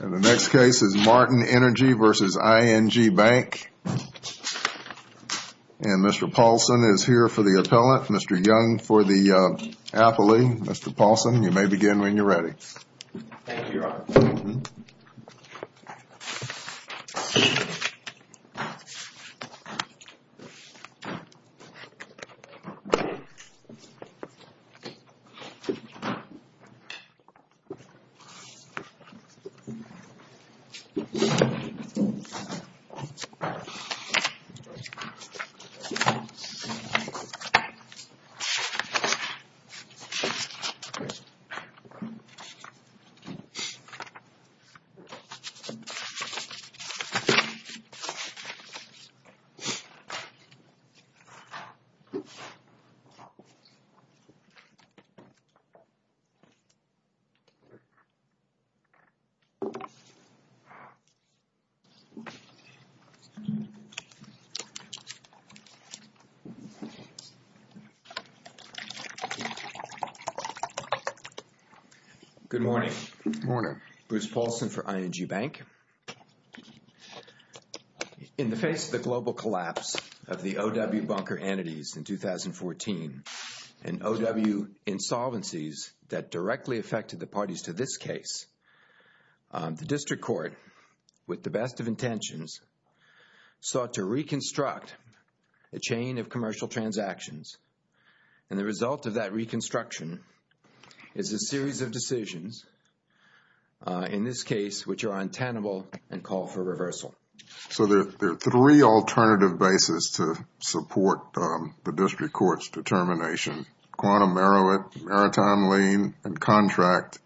The next case is Martin Energy v. ING Bank, and Mr. Paulson is here for the appellant. Mr. Paulson, you may begin when you're ready. Thank you, Your Honor. Thank you, Your Honor. Good morning. Good morning. Bruce Paulson for ING Bank. In the face of the global collapse of the O.W. bunker entities in 2014 and O.W. insolvencies that directly affected the parties to this case, the District Court, with the best of intentions, sought to reconstruct a chain of commercial transactions, and the result of that reconstruction is a series of decisions, in this case, which are untenable and call for reversal. So, there are three alternative bases to support the District Court's determination, quantum merit, maritime lien, and contract,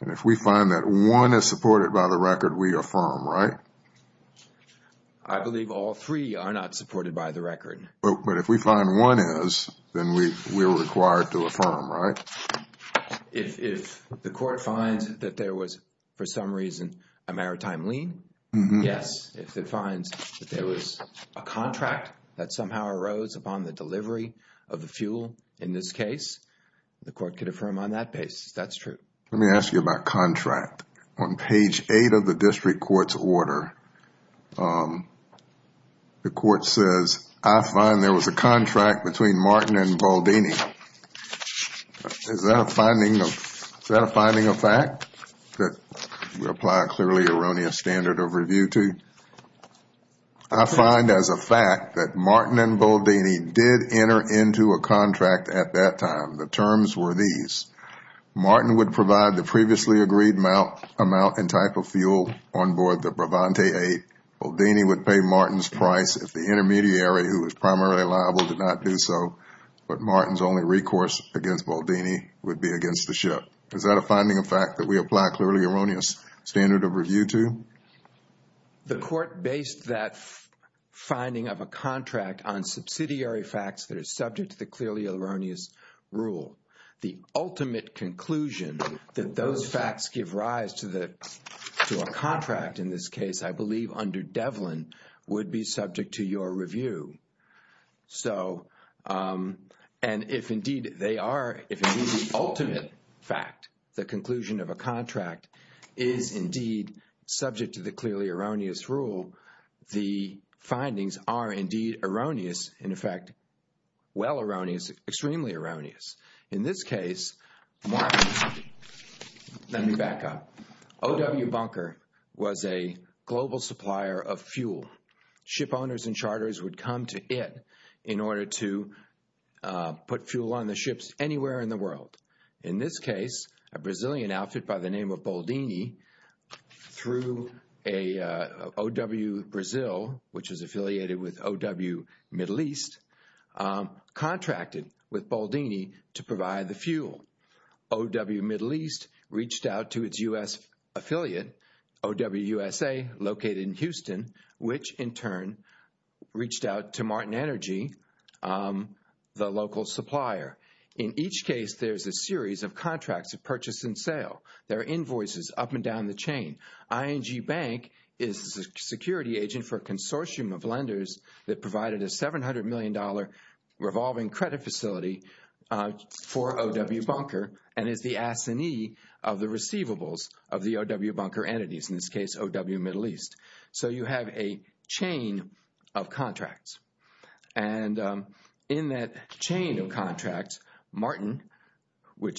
and if we find that one is supported by the record, we affirm, right? I believe all three are not supported by the record. But if we find one is, then we are required to affirm, right? If the court finds that there was, for some reason, a maritime lien, yes. If it finds that there was a contract that somehow arose upon the delivery of the fuel in this case, the court could affirm on that basis. That's true. Let me ask you about contract. On page 8 of the District Court's order, the court says, I find there was a contract between Martin and Baldini. Is that a finding of fact that we apply a clearly erroneous standard of review to? I find as a fact that Martin and Baldini did enter into a contract at that time. The terms were these. Martin would provide the previously agreed amount and type of fuel on board the Bravante 8. Baldini would pay Martin's price if the intermediary, who was primarily liable, did not do so. But Martin's only recourse against Baldini would be against the ship. Is that a finding of fact that we apply a clearly erroneous standard of review to? The court based that finding of a contract on subsidiary facts that are subject to the clearly erroneous rule. The ultimate conclusion that those facts give rise to a contract in this case, I believe under Devlin, would be subject to your review. And if indeed the ultimate fact, the conclusion of a contract, is indeed subject to the clearly erroneous rule, the findings are indeed erroneous, in effect, well erroneous, extremely erroneous. In this case, Martin, let me back up, O.W. Bunker was a global supplier of fuel. Ship owners and charters would come to it in order to put fuel on the ships anywhere in the world. In this case, a Brazilian outfit by the name of Baldini threw a O.W. Brazil, which is affiliated with O.W. Middle East, contracted with Baldini to provide the fuel. O.W. Middle East reached out to its U.S. affiliate, O.W. USA, located in Houston, which in turn reached out to Martin Energy, the local supplier. In each case, there's a series of contracts of purchase and sale. There are invoices up and down the chain. ING Bank is a security agent for a consortium of lenders that provided a $700 million revolving credit facility for O.W. Bunker and is the assignee of the receivables of the O.W. Bunker entities, in this case, O.W. Middle East. So you have a chain of contracts. And in that chain of contracts, Martin,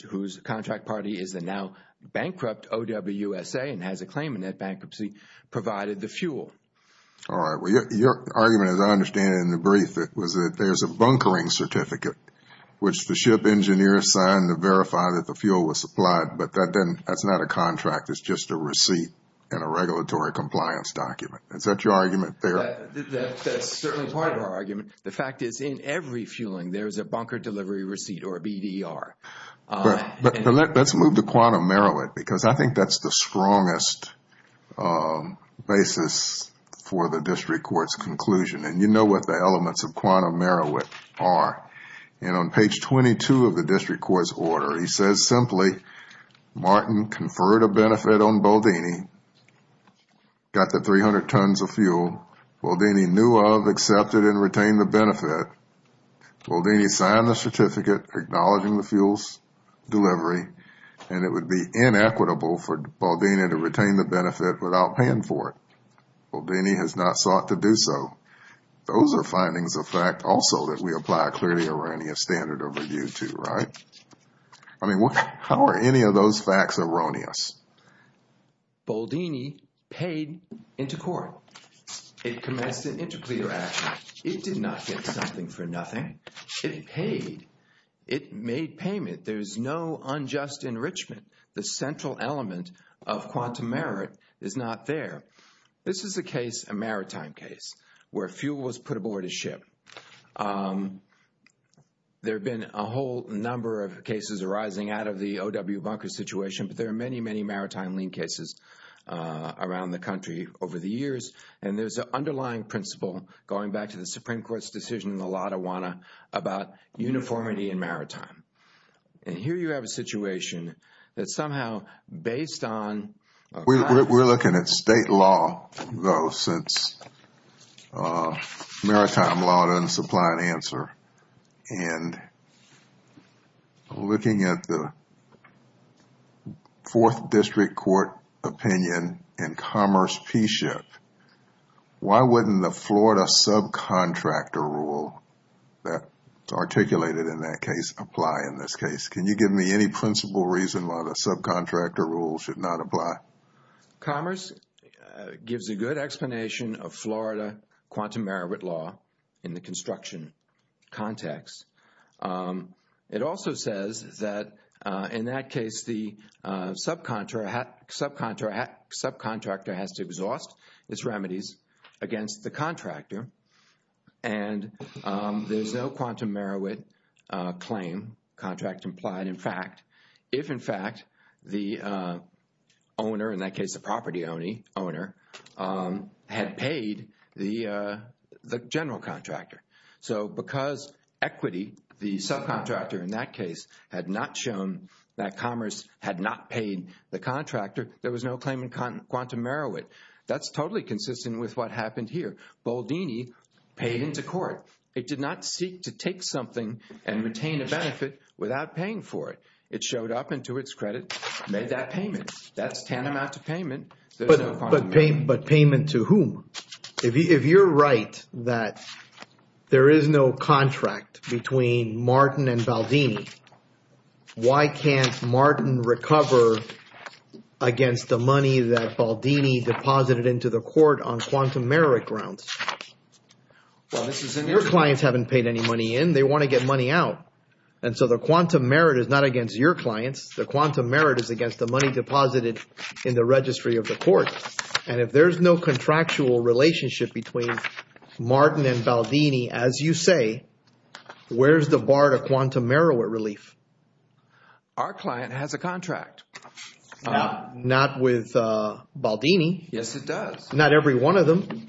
whose contract party is the now bankrupt O.W. USA and has a claim in that bankruptcy, provided the fuel. All right. Well, your argument, as I understand it in the brief, was that there's a bunkering certificate, which the ship engineer signed to verify that the fuel was supplied. But that's not a contract. It's just a receipt and a regulatory compliance document. Is that your argument there? That's certainly part of our argument. The fact is, in every fueling, there's a bunker delivery receipt or BDR. But let's move to Quantum Merowith because I think that's the strongest basis for the district court's conclusion. And you know what the elements of Quantum Merowith are. And on page 22 of the district court's order, he says simply, Martin conferred a benefit on Boldini, got the 300 tons of fuel, Boldini knew of, accepted, and retained the benefit. Boldini signed the certificate acknowledging the fuel's delivery, and it would be inequitable for Boldini to retain the benefit without paying for it. Boldini has not sought to do so. Those are findings of fact also that we apply a clearly erroneous standard of review to, right? I mean, how are any of those facts erroneous? Boldini paid into court. It commenced an interclear action. It did not get something for nothing. It paid. It made payment. There's no unjust enrichment. The central element of Quantum Merowith is not there. This is a case, a maritime case, where fuel was put aboard a ship. There have been a whole number of cases arising out of the OW bunker situation, but there are many, many maritime lien cases around the country over the years. There's an underlying principle, going back to the Supreme Court's decision in the Lotta Wanna about uniformity in maritime. Here you have a situation that somehow, based on... We're looking at state law, though, since Maritime Law doesn't supply an answer. We're looking at the Fourth District Court opinion in Commerce P-Ship. Why wouldn't the Florida subcontractor rule that's articulated in that case apply in this case? Can you give me any principle reason why the subcontractor rule should not apply? Commerce gives a good explanation of Florida Quantum Merowith Law in the construction context. It also says that, in that case, the subcontractor has to exhaust its remedies against the contractor, and there's no Quantum Merowith claim, contract implied, in fact, if, in fact, the owner, in that case the property owner, had paid the general contractor. Because equity, the subcontractor in that case, had not shown that Commerce had not paid the contractor, there was no claim in Quantum Merowith. That's totally consistent with what happened here. Baldini paid into court. It did not seek to take something and retain a benefit without paying for it. It showed up and, to its credit, made that payment. That's tantamount to payment. But payment to whom? If you're right that there is no contract between Martin and Baldini, why can't Martin recover against the money that Baldini deposited into the court on Quantum Merowith grounds? Your clients haven't paid any money in. They want to get money out. And so the Quantum Merit is not against your clients. The Quantum Merit is against the money deposited in the registry of the court. And if there's no contractual relationship between Martin and Baldini, as you say, where's the bar to Quantum Merowith relief? Our client has a contract. Not with Baldini. Yes, it does. Not every one of them.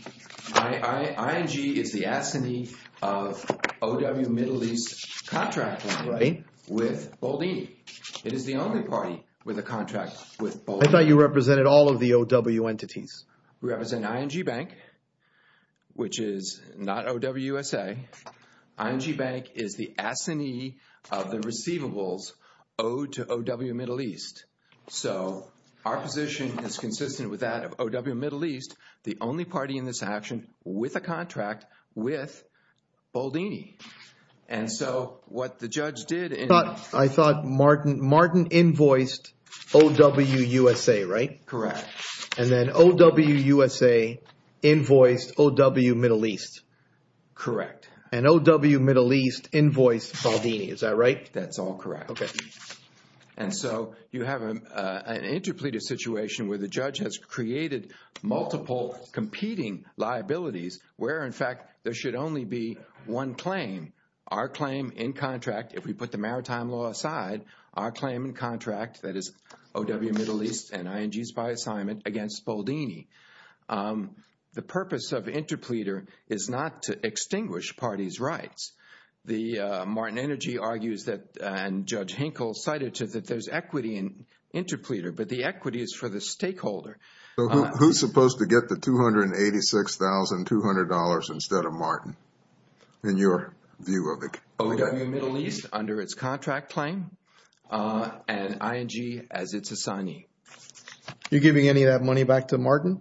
ING is the assignee of O.W. Middle East Contracting with Baldini. It is the only party with a contract with Baldini. I thought you represented all of the O.W. entities. We represent ING Bank, which is not O.W. USA. ING Bank is the assignee of the receivables owed to O.W. Middle East. So our position is consistent with that of O.W. Middle East, the only party in this action with a contract with Baldini. And so what the judge did in... I thought Martin invoiced O.W. USA, right? Correct. And then O.W. USA invoiced O.W. Middle East. Correct. And O.W. Middle East invoiced Baldini, is that right? That's all correct. Okay. And so you have an interpleader situation where the judge has created multiple competing liabilities where, in fact, there should only be one claim. Our claim in contract, if we put the maritime law aside, our claim in contract, that is O.W. Middle East and ING's by assignment against Baldini. The purpose of interpleader is not to extinguish parties' rights. The Martin Energy argues that, and Judge Hinkle cited to, that there's equity in interpleader, but the equity is for the stakeholder. Who's supposed to get the $286,200 instead of Martin, in your view of it? O.W. Middle East, under its contract claim, and ING as its assignee. You're giving any of that money back to Martin?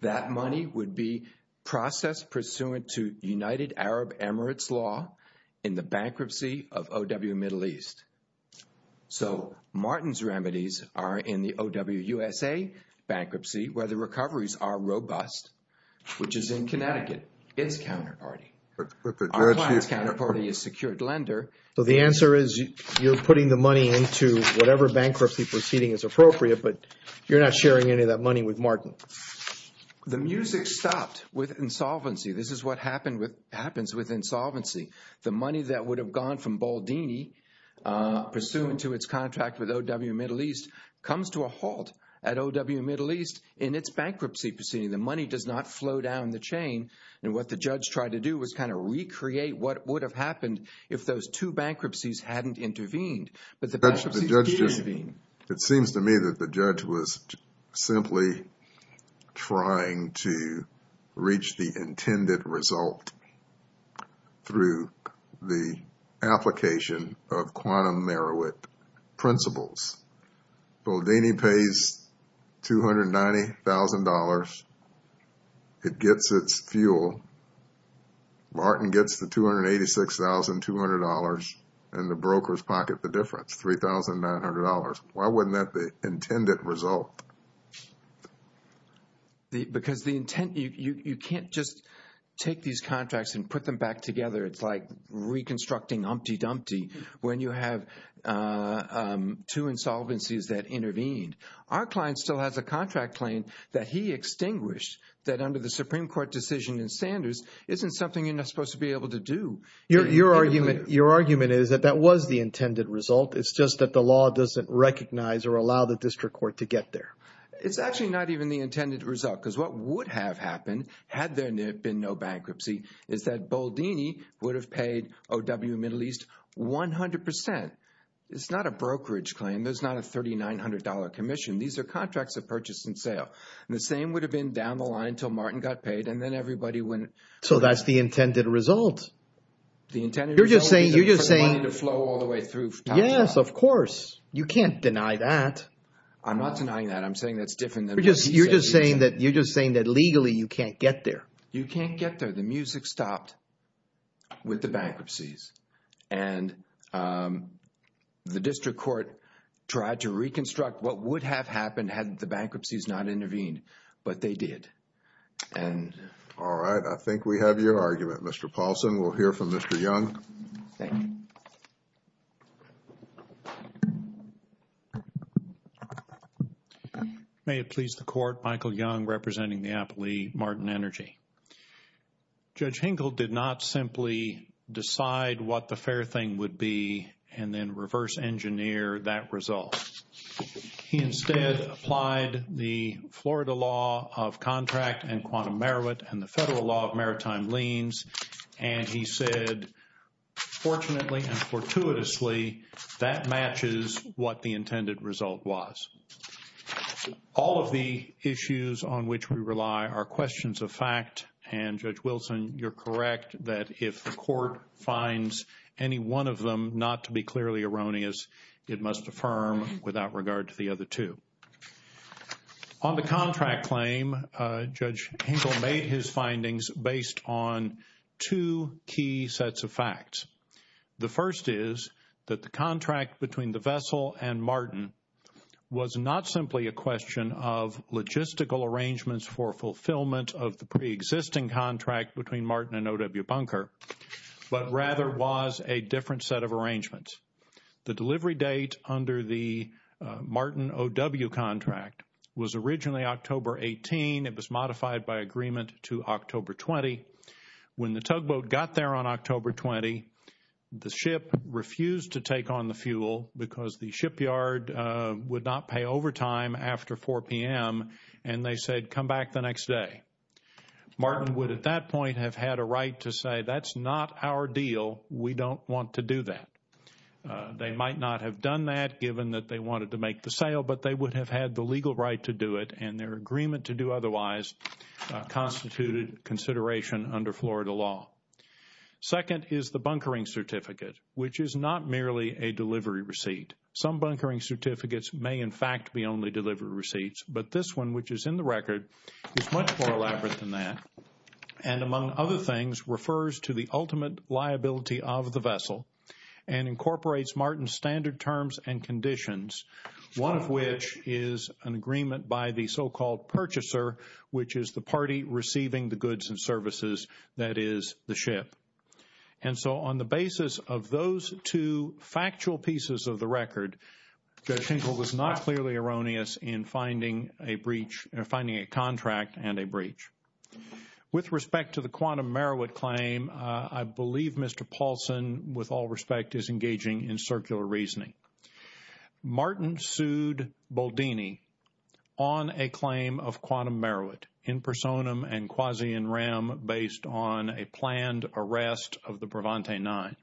That money would be processed pursuant to United Arab Emirates law in the bankruptcy of O.W. Middle East. So Martin's remedies are in the O.W. USA bankruptcy where the recoveries are robust, which is in Connecticut, its counterparty. Our client's counterparty is Secured Lender, so the answer is you're putting the money into whatever bankruptcy proceeding is appropriate, but you're not sharing any of that money with Martin. The music stopped with insolvency. This is what happens with insolvency. The money that would have gone from Baldini pursuant to its contract with O.W. Middle East comes to a halt at O.W. Middle East in its bankruptcy proceeding. The money does not flow down the chain, and what the judge tried to do was kind of recreate what would have happened if those two bankruptcies hadn't intervened. It seems to me that the judge was simply trying to reach the intended result through the application of quantum merit principles. Baldini pays $290,000, it gets its fuel, Martin gets the $286,200, and the brokers pocket the difference, $3,900. Why wouldn't that be the intended result? Because you can't just take these contracts and put them back together. It's like reconstructing Humpty Dumpty when you have two insolvencies that intervened. Our client still has a contract claim that he extinguished that under the Supreme Court decision in Sanders isn't something you're not supposed to be able to do. Your argument is that that was the intended result. It's just that the law doesn't recognize or allow the district court to get there. It's actually not even the intended result, because what would have happened had there been no bankruptcy is that Baldini would have paid O.W. Middle East 100%. It's not a brokerage claim. There's not a $3,900 commission. These are contracts of purchase and sale, and the same would have been down the line until Martin got paid, and then everybody wouldn't. So that's the intended result. The intended result is for the money to flow all the way through. Yes, of course. You can't deny that. I'm not denying that. I'm saying that's different than what he's saying. You're just saying that legally you can't get there. You can't get there. The music stopped with the bankruptcies, and the district court tried to reconstruct what would have happened had the bankruptcies not intervened, but they did. All right. I think we have your argument, Mr. Paulson. We'll hear from Mr. Young. Thank you. May it please the Court, Michael Young representing the Applee Martin Energy. Judge Hinkle did not simply decide what the fair thing would be and then reverse engineer that result. He instead applied the Florida law of contract and quantum merit and the federal law of maritime liens, and he said, fortunately and fortuitously, that matches what the intended result was. All of the issues on which we rely are questions of fact, and Judge Wilson, you're correct that if the court finds any one of them not to be clearly erroneous, it must affirm without regard to the other two. On the contract claim, Judge Hinkle made his findings based on two key sets of facts. The first is that the contract between the vessel and Martin was not simply a question of logistical arrangements for fulfillment of the preexisting contract between Martin and O.W. Bunker, but rather was a different set of arrangements. The delivery date under the Martin O.W. contract was originally October 18. It was modified by agreement to October 20. When the tugboat got there on October 20, the ship refused to take on the fuel because the shipyard would not pay overtime after 4 p.m., and they said come back the next day. Martin would at that point have had a right to say that's not our deal. We don't want to do that. They might not have done that given that they wanted to make the sale, but they would have had the legal right to do it, and their agreement to do otherwise constituted consideration under Florida law. Second is the bunkering certificate, which is not merely a delivery receipt. Some bunkering certificates may in fact be only delivery receipts, but this one, which is in the record, is much more elaborate than that, and among other things, refers to the ultimate liability of the vessel and incorporates Martin's standard terms and conditions, one of which is an agreement by the so-called purchaser, which is the party receiving the goods and services that is the ship. And so on the basis of those two factual pieces of the record, Judge Schenkel was not clearly erroneous in finding a breach or finding a contract and a breach. With respect to the Quantum Merowit claim, I believe Mr. Paulson, with all respect, is engaging in circular reasoning. Martin sued Boldini on a claim of Quantum Merowit in personam and quasi in rem based on a planned arrest of the Brevante Nine.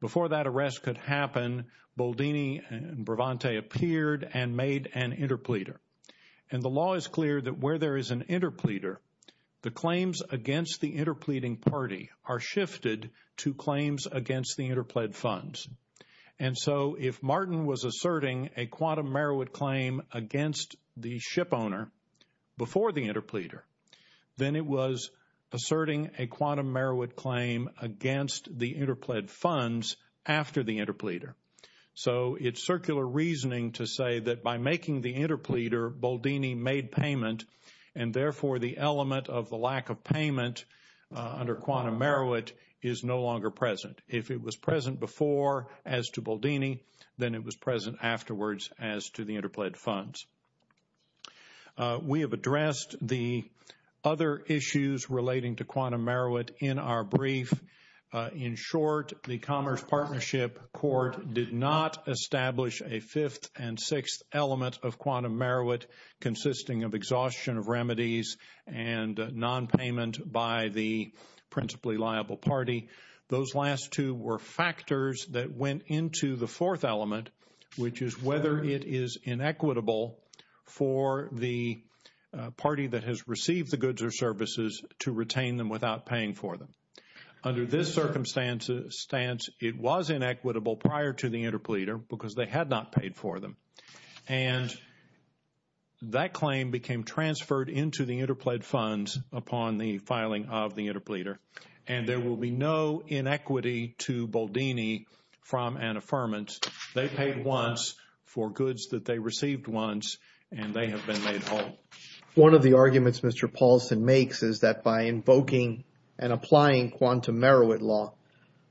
Before that arrest could happen, Boldini and Brevante appeared and made an interpleader. And the law is clear that where there is an interpleader, the claims against the interpleading party are shifted to claims against the interpled funds. And so if Martin was asserting a Quantum Merowit claim against the shipowner before the interpleader, then it was asserting a Quantum Merowit claim against the interpled funds after the interpleader. So it's circular reasoning to say that by making the interpleader, Boldini made payment and therefore the element of the lack of payment under Quantum Merowit is no longer present. If it was present before as to Boldini, then it was present afterwards as to the interpled funds. We have addressed the other issues relating to Quantum Merowit in our brief. In short, the Commerce Partnership Court did not establish a fifth and sixth element of Quantum Merowit consisting of exhaustion of remedies and nonpayment by the principally liable party. Those last two were factors that went into the fourth element, which is whether it is inequitable for the party that has received the goods or services to retain them without paying for them. Under this circumstance, it was inequitable prior to the interpleader because they had not paid for them. And that claim became transferred into the interpled funds upon the filing of the interpleader. And there will be no inequity to Boldini from an affirmant. They paid once for goods that they received once and they have been made whole. One of the arguments Mr. Paulson makes is that by invoking and applying Quantum Merowit law,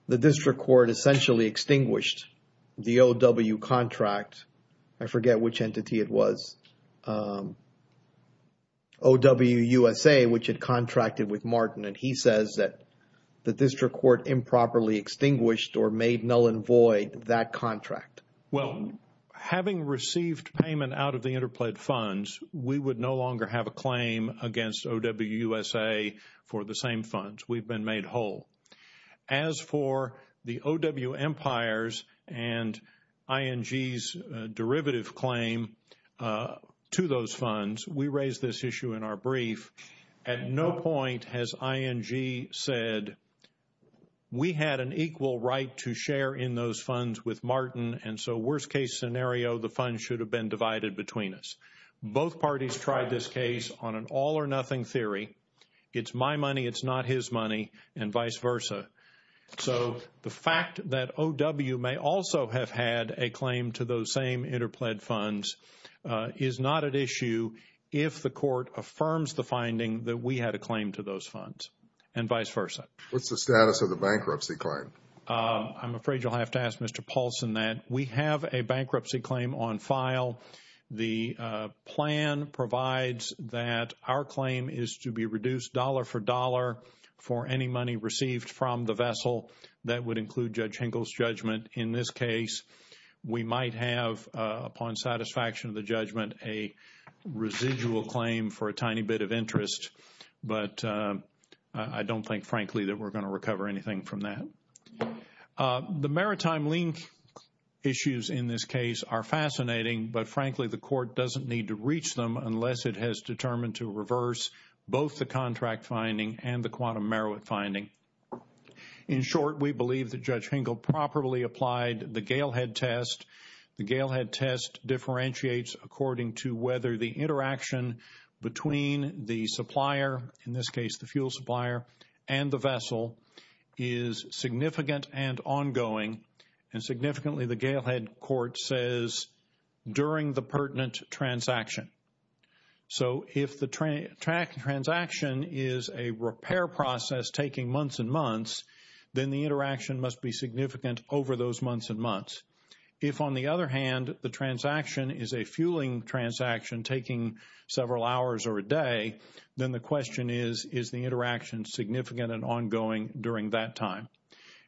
the district court essentially extinguished the OW contract, I forget which entity it was, OWUSA, which had contracted with Martin, and he says that the district court improperly extinguished or made null and void that contract. Well, having received payment out of the interpled funds, we would no longer have a claim against OWUSA for the same funds. We've been made whole. As for the OW Empires and ING's derivative claim to those funds, we raised this issue in our brief. At no point has ING said, we had an equal right to share in those funds with Martin and so worst case scenario, the funds should have been divided between us. Both parties tried this case on an all or nothing theory, it's my money, it's not his money, and vice versa. So the fact that OW may also have had a claim to those same interpled funds is not an issue if the court affirms the finding that we had a claim to those funds and vice versa. What's the status of the bankruptcy claim? I'm afraid you'll have to ask Mr. Paulson that. We have a bankruptcy claim on file. The plan provides that our claim is to be reduced dollar for dollar for any money received from the vessel. That would include Judge Hinkle's judgment in this case. We might have, upon satisfaction of the judgment, a residual claim for a tiny bit of interest, but I don't think, frankly, that we're going to recover anything from that. The maritime link issues in this case are fascinating, but frankly, the court doesn't need to reach them unless it has determined to reverse both the contract finding and the quantum Meroweth finding. In short, we believe that Judge Hinkle properly applied the Galehead test. The Galehead test differentiates according to whether the interaction between the supplier, in this case the fuel supplier, and the vessel is significant and ongoing, and significantly the Galehead court says during the pertinent transaction. So if the transaction is a repair process taking months and months, then the interaction must be significant over those months and months. If on the other hand, the transaction is a fueling transaction taking several hours or a day, then the question is, is the interaction significant and ongoing during that time?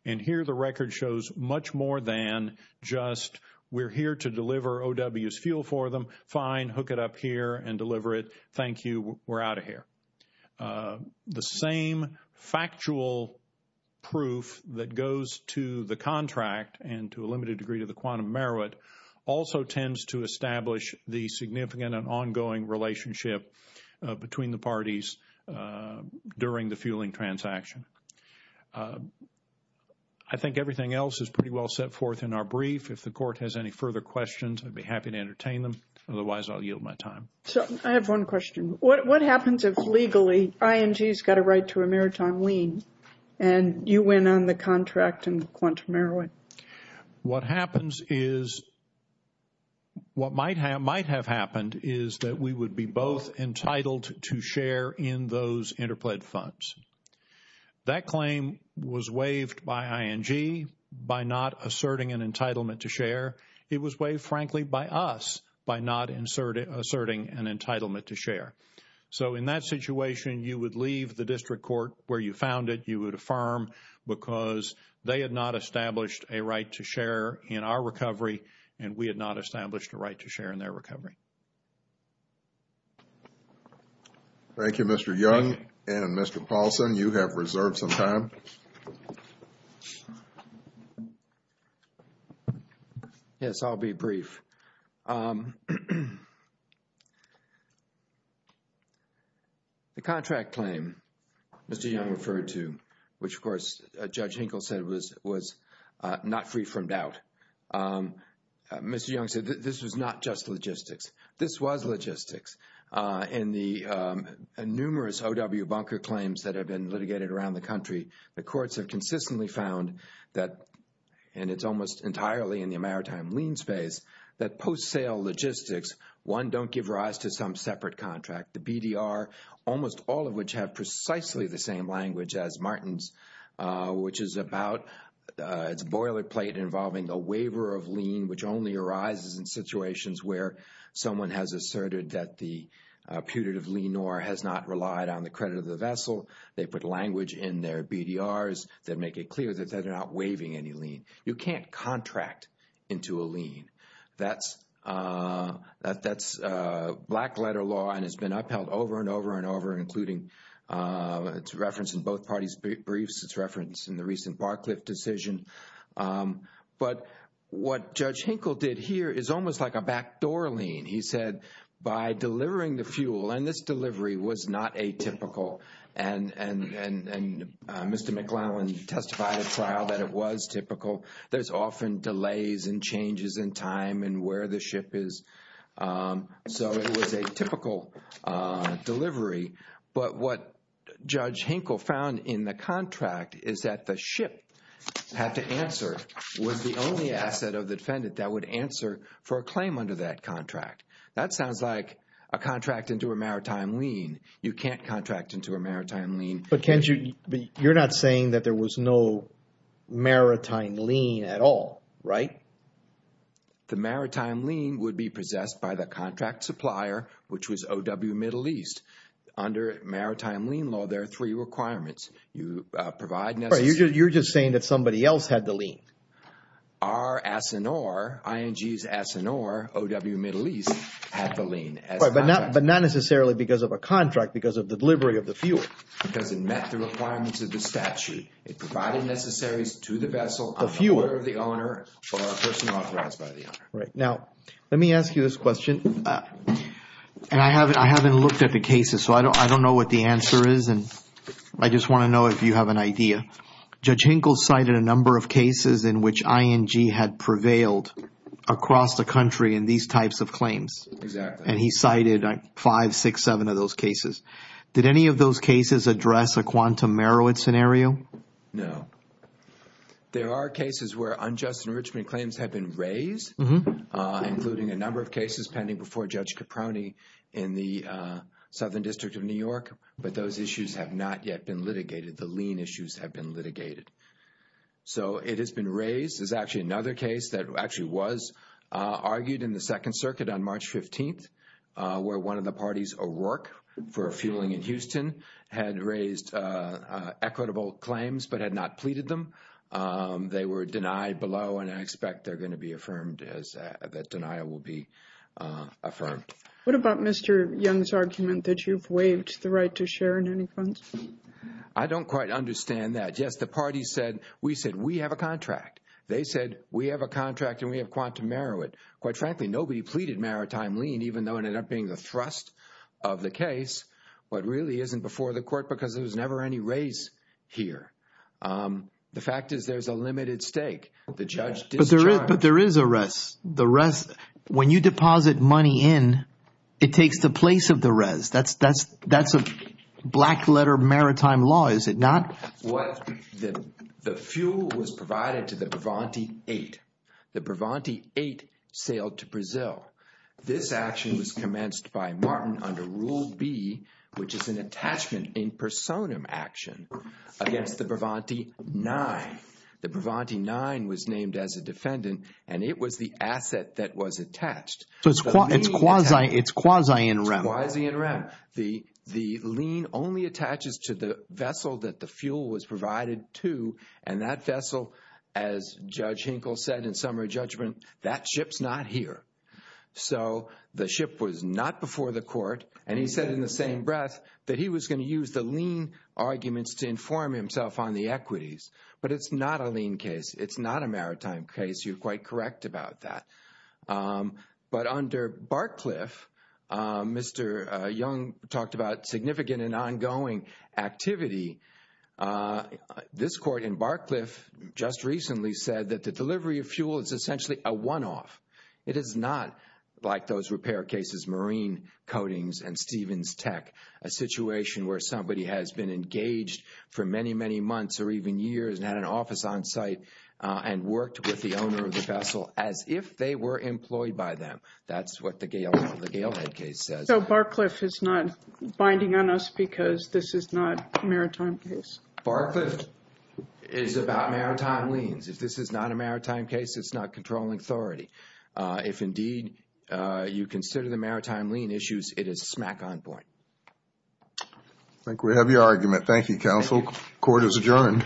And here the record shows much more than just, we're here to deliver O.W.'s fuel for them, fine, hook it up here and deliver it, thank you, we're out of here. The same factual proof that goes to the contract and to a limited degree to the quantum Meroweth also tends to establish the significant and ongoing relationship between the parties during the fueling transaction. I think everything else is pretty well set forth in our brief. If the court has any further questions, I'd be happy to entertain them. Otherwise, I'll yield my time. So, I have one question. What happens if legally ING's got a right to a maritime lien and you win on the contract and quantum Meroweth? What happens is, what might have happened is that we would be both entitled to share in those interplaid funds. That claim was waived by ING by not asserting an entitlement to share. It was waived, frankly, by us by not asserting an entitlement to share. So in that situation, you would leave the district court where you found it. You would affirm because they had not established a right to share in our recovery and we had not established a right to share in their recovery. Thank you, Mr. Young and Mr. Paulson. You have reserved some time. Yes, I'll be brief. The contract claim Mr. Young referred to, which, of course, Judge Hinkle said was not free from doubt, Mr. Young said this was not just logistics. This was logistics. In the numerous OW bunker claims that have been litigated around the country, the courts have consistently found that, and it's almost entirely in the maritime lien space, that post-sale logistics, one, don't give rise to some separate contract. The BDR, almost all of which have precisely the same language as Martin's, which is about its boilerplate involving a waiver of lien, which only arises in situations where someone has asserted that the putative lien or has not relied on the credit of the vessel. They put language in their BDRs that make it clear that they're not waiving any lien. You can't contract into a lien. That's black-letter law and it's been upheld over and over and over, including it's referenced in both parties' briefs, it's referenced in the recent Barcliffe decision. But what Judge Hinkle did here is almost like a backdoor lien. He said, by delivering the fuel, and this delivery was not atypical, and Mr. McLellan testified at trial that it was typical. There's often delays and changes in time and where the ship is. So it was a typical delivery. But what Judge Hinkle found in the contract is that the ship had to answer, was the only That sounds like a contract into a maritime lien. You can't contract into a maritime lien. But Kenji, you're not saying that there was no maritime lien at all, right? The maritime lien would be possessed by the contract supplier, which was OW Middle East. Under maritime lien law, there are three requirements. You provide necessary... You're just saying that somebody else had the lien. Our ASINOR, ING's ASINOR, OW Middle East had the lien. But not necessarily because of a contract, because of the delivery of the fuel. Because it met the requirements of the statute. It provided necessaries to the vessel, on the order of the owner, or a person authorized by the owner. Right. Now, let me ask you this question. And I haven't looked at the cases, so I don't know what the answer is. And I just want to know if you have an idea. Judge Hinkle cited a number of cases in which ING had prevailed across the country in these types of claims. Exactly. And he cited five, six, seven of those cases. Did any of those cases address a quantum Merowith scenario? No. There are cases where unjust enrichment claims have been raised, including a number of cases pending before Judge Caproni in the Southern District of New York. But those issues have not yet been litigated. The lien issues have been litigated. So it has been raised. There's actually another case that actually was argued in the Second Circuit on March 15th, where one of the parties, O'Rourke, for fueling in Houston, had raised equitable claims, but had not pleaded them. They were denied below, and I expect they're going to be affirmed, that denial will be affirmed. What about Mr. Young's argument that you've waived the right to share in any funds? I don't quite understand that. Yes, the party said, we said, we have a contract. They said, we have a contract and we have quantum Merowith. Quite frankly, nobody pleaded maritime lien, even though it ended up being the thrust of the case. What really isn't before the court, because there was never any raise here. The fact is, there's a limited stake. The judge discharged. But there is a raise. The raise, when you deposit money in, it takes the place of the raise. That's a black letter maritime law, is it not? The fuel was provided to the Bravanti 8. The Bravanti 8 sailed to Brazil. This action was commenced by Martin under Rule B, which is an attachment in personam action against the Bravanti 9. The Bravanti 9 was named as a defendant, and it was the asset that was attached. So it's quasi-in rem. Quasi-in rem. The lien only attaches to the vessel that the fuel was provided to. And that vessel, as Judge Hinkle said in summary judgment, that ship's not here. So the ship was not before the court. And he said in the same breath that he was going to use the lien arguments to inform himself on the equities. But it's not a lien case. It's not a maritime case. You're quite correct about that. But under Barcliff, Mr. Young talked about significant and ongoing activity. This court in Barcliff just recently said that the delivery of fuel is essentially a one-off. It is not like those repair cases, Marine Coatings and Stevens Tech. A situation where somebody has been engaged for many, many months or even years and had an office on site and worked with the owner of the vessel as if they were employed by them. That's what the Galehead case says. So Barcliff is not binding on us because this is not a maritime case? Barcliff is about maritime liens. If this is not a maritime case, it's not controlling authority. If indeed you consider the maritime lien issues, it is smack on point. I think we have your argument. Thank you, counsel. Court is adjourned. All rise.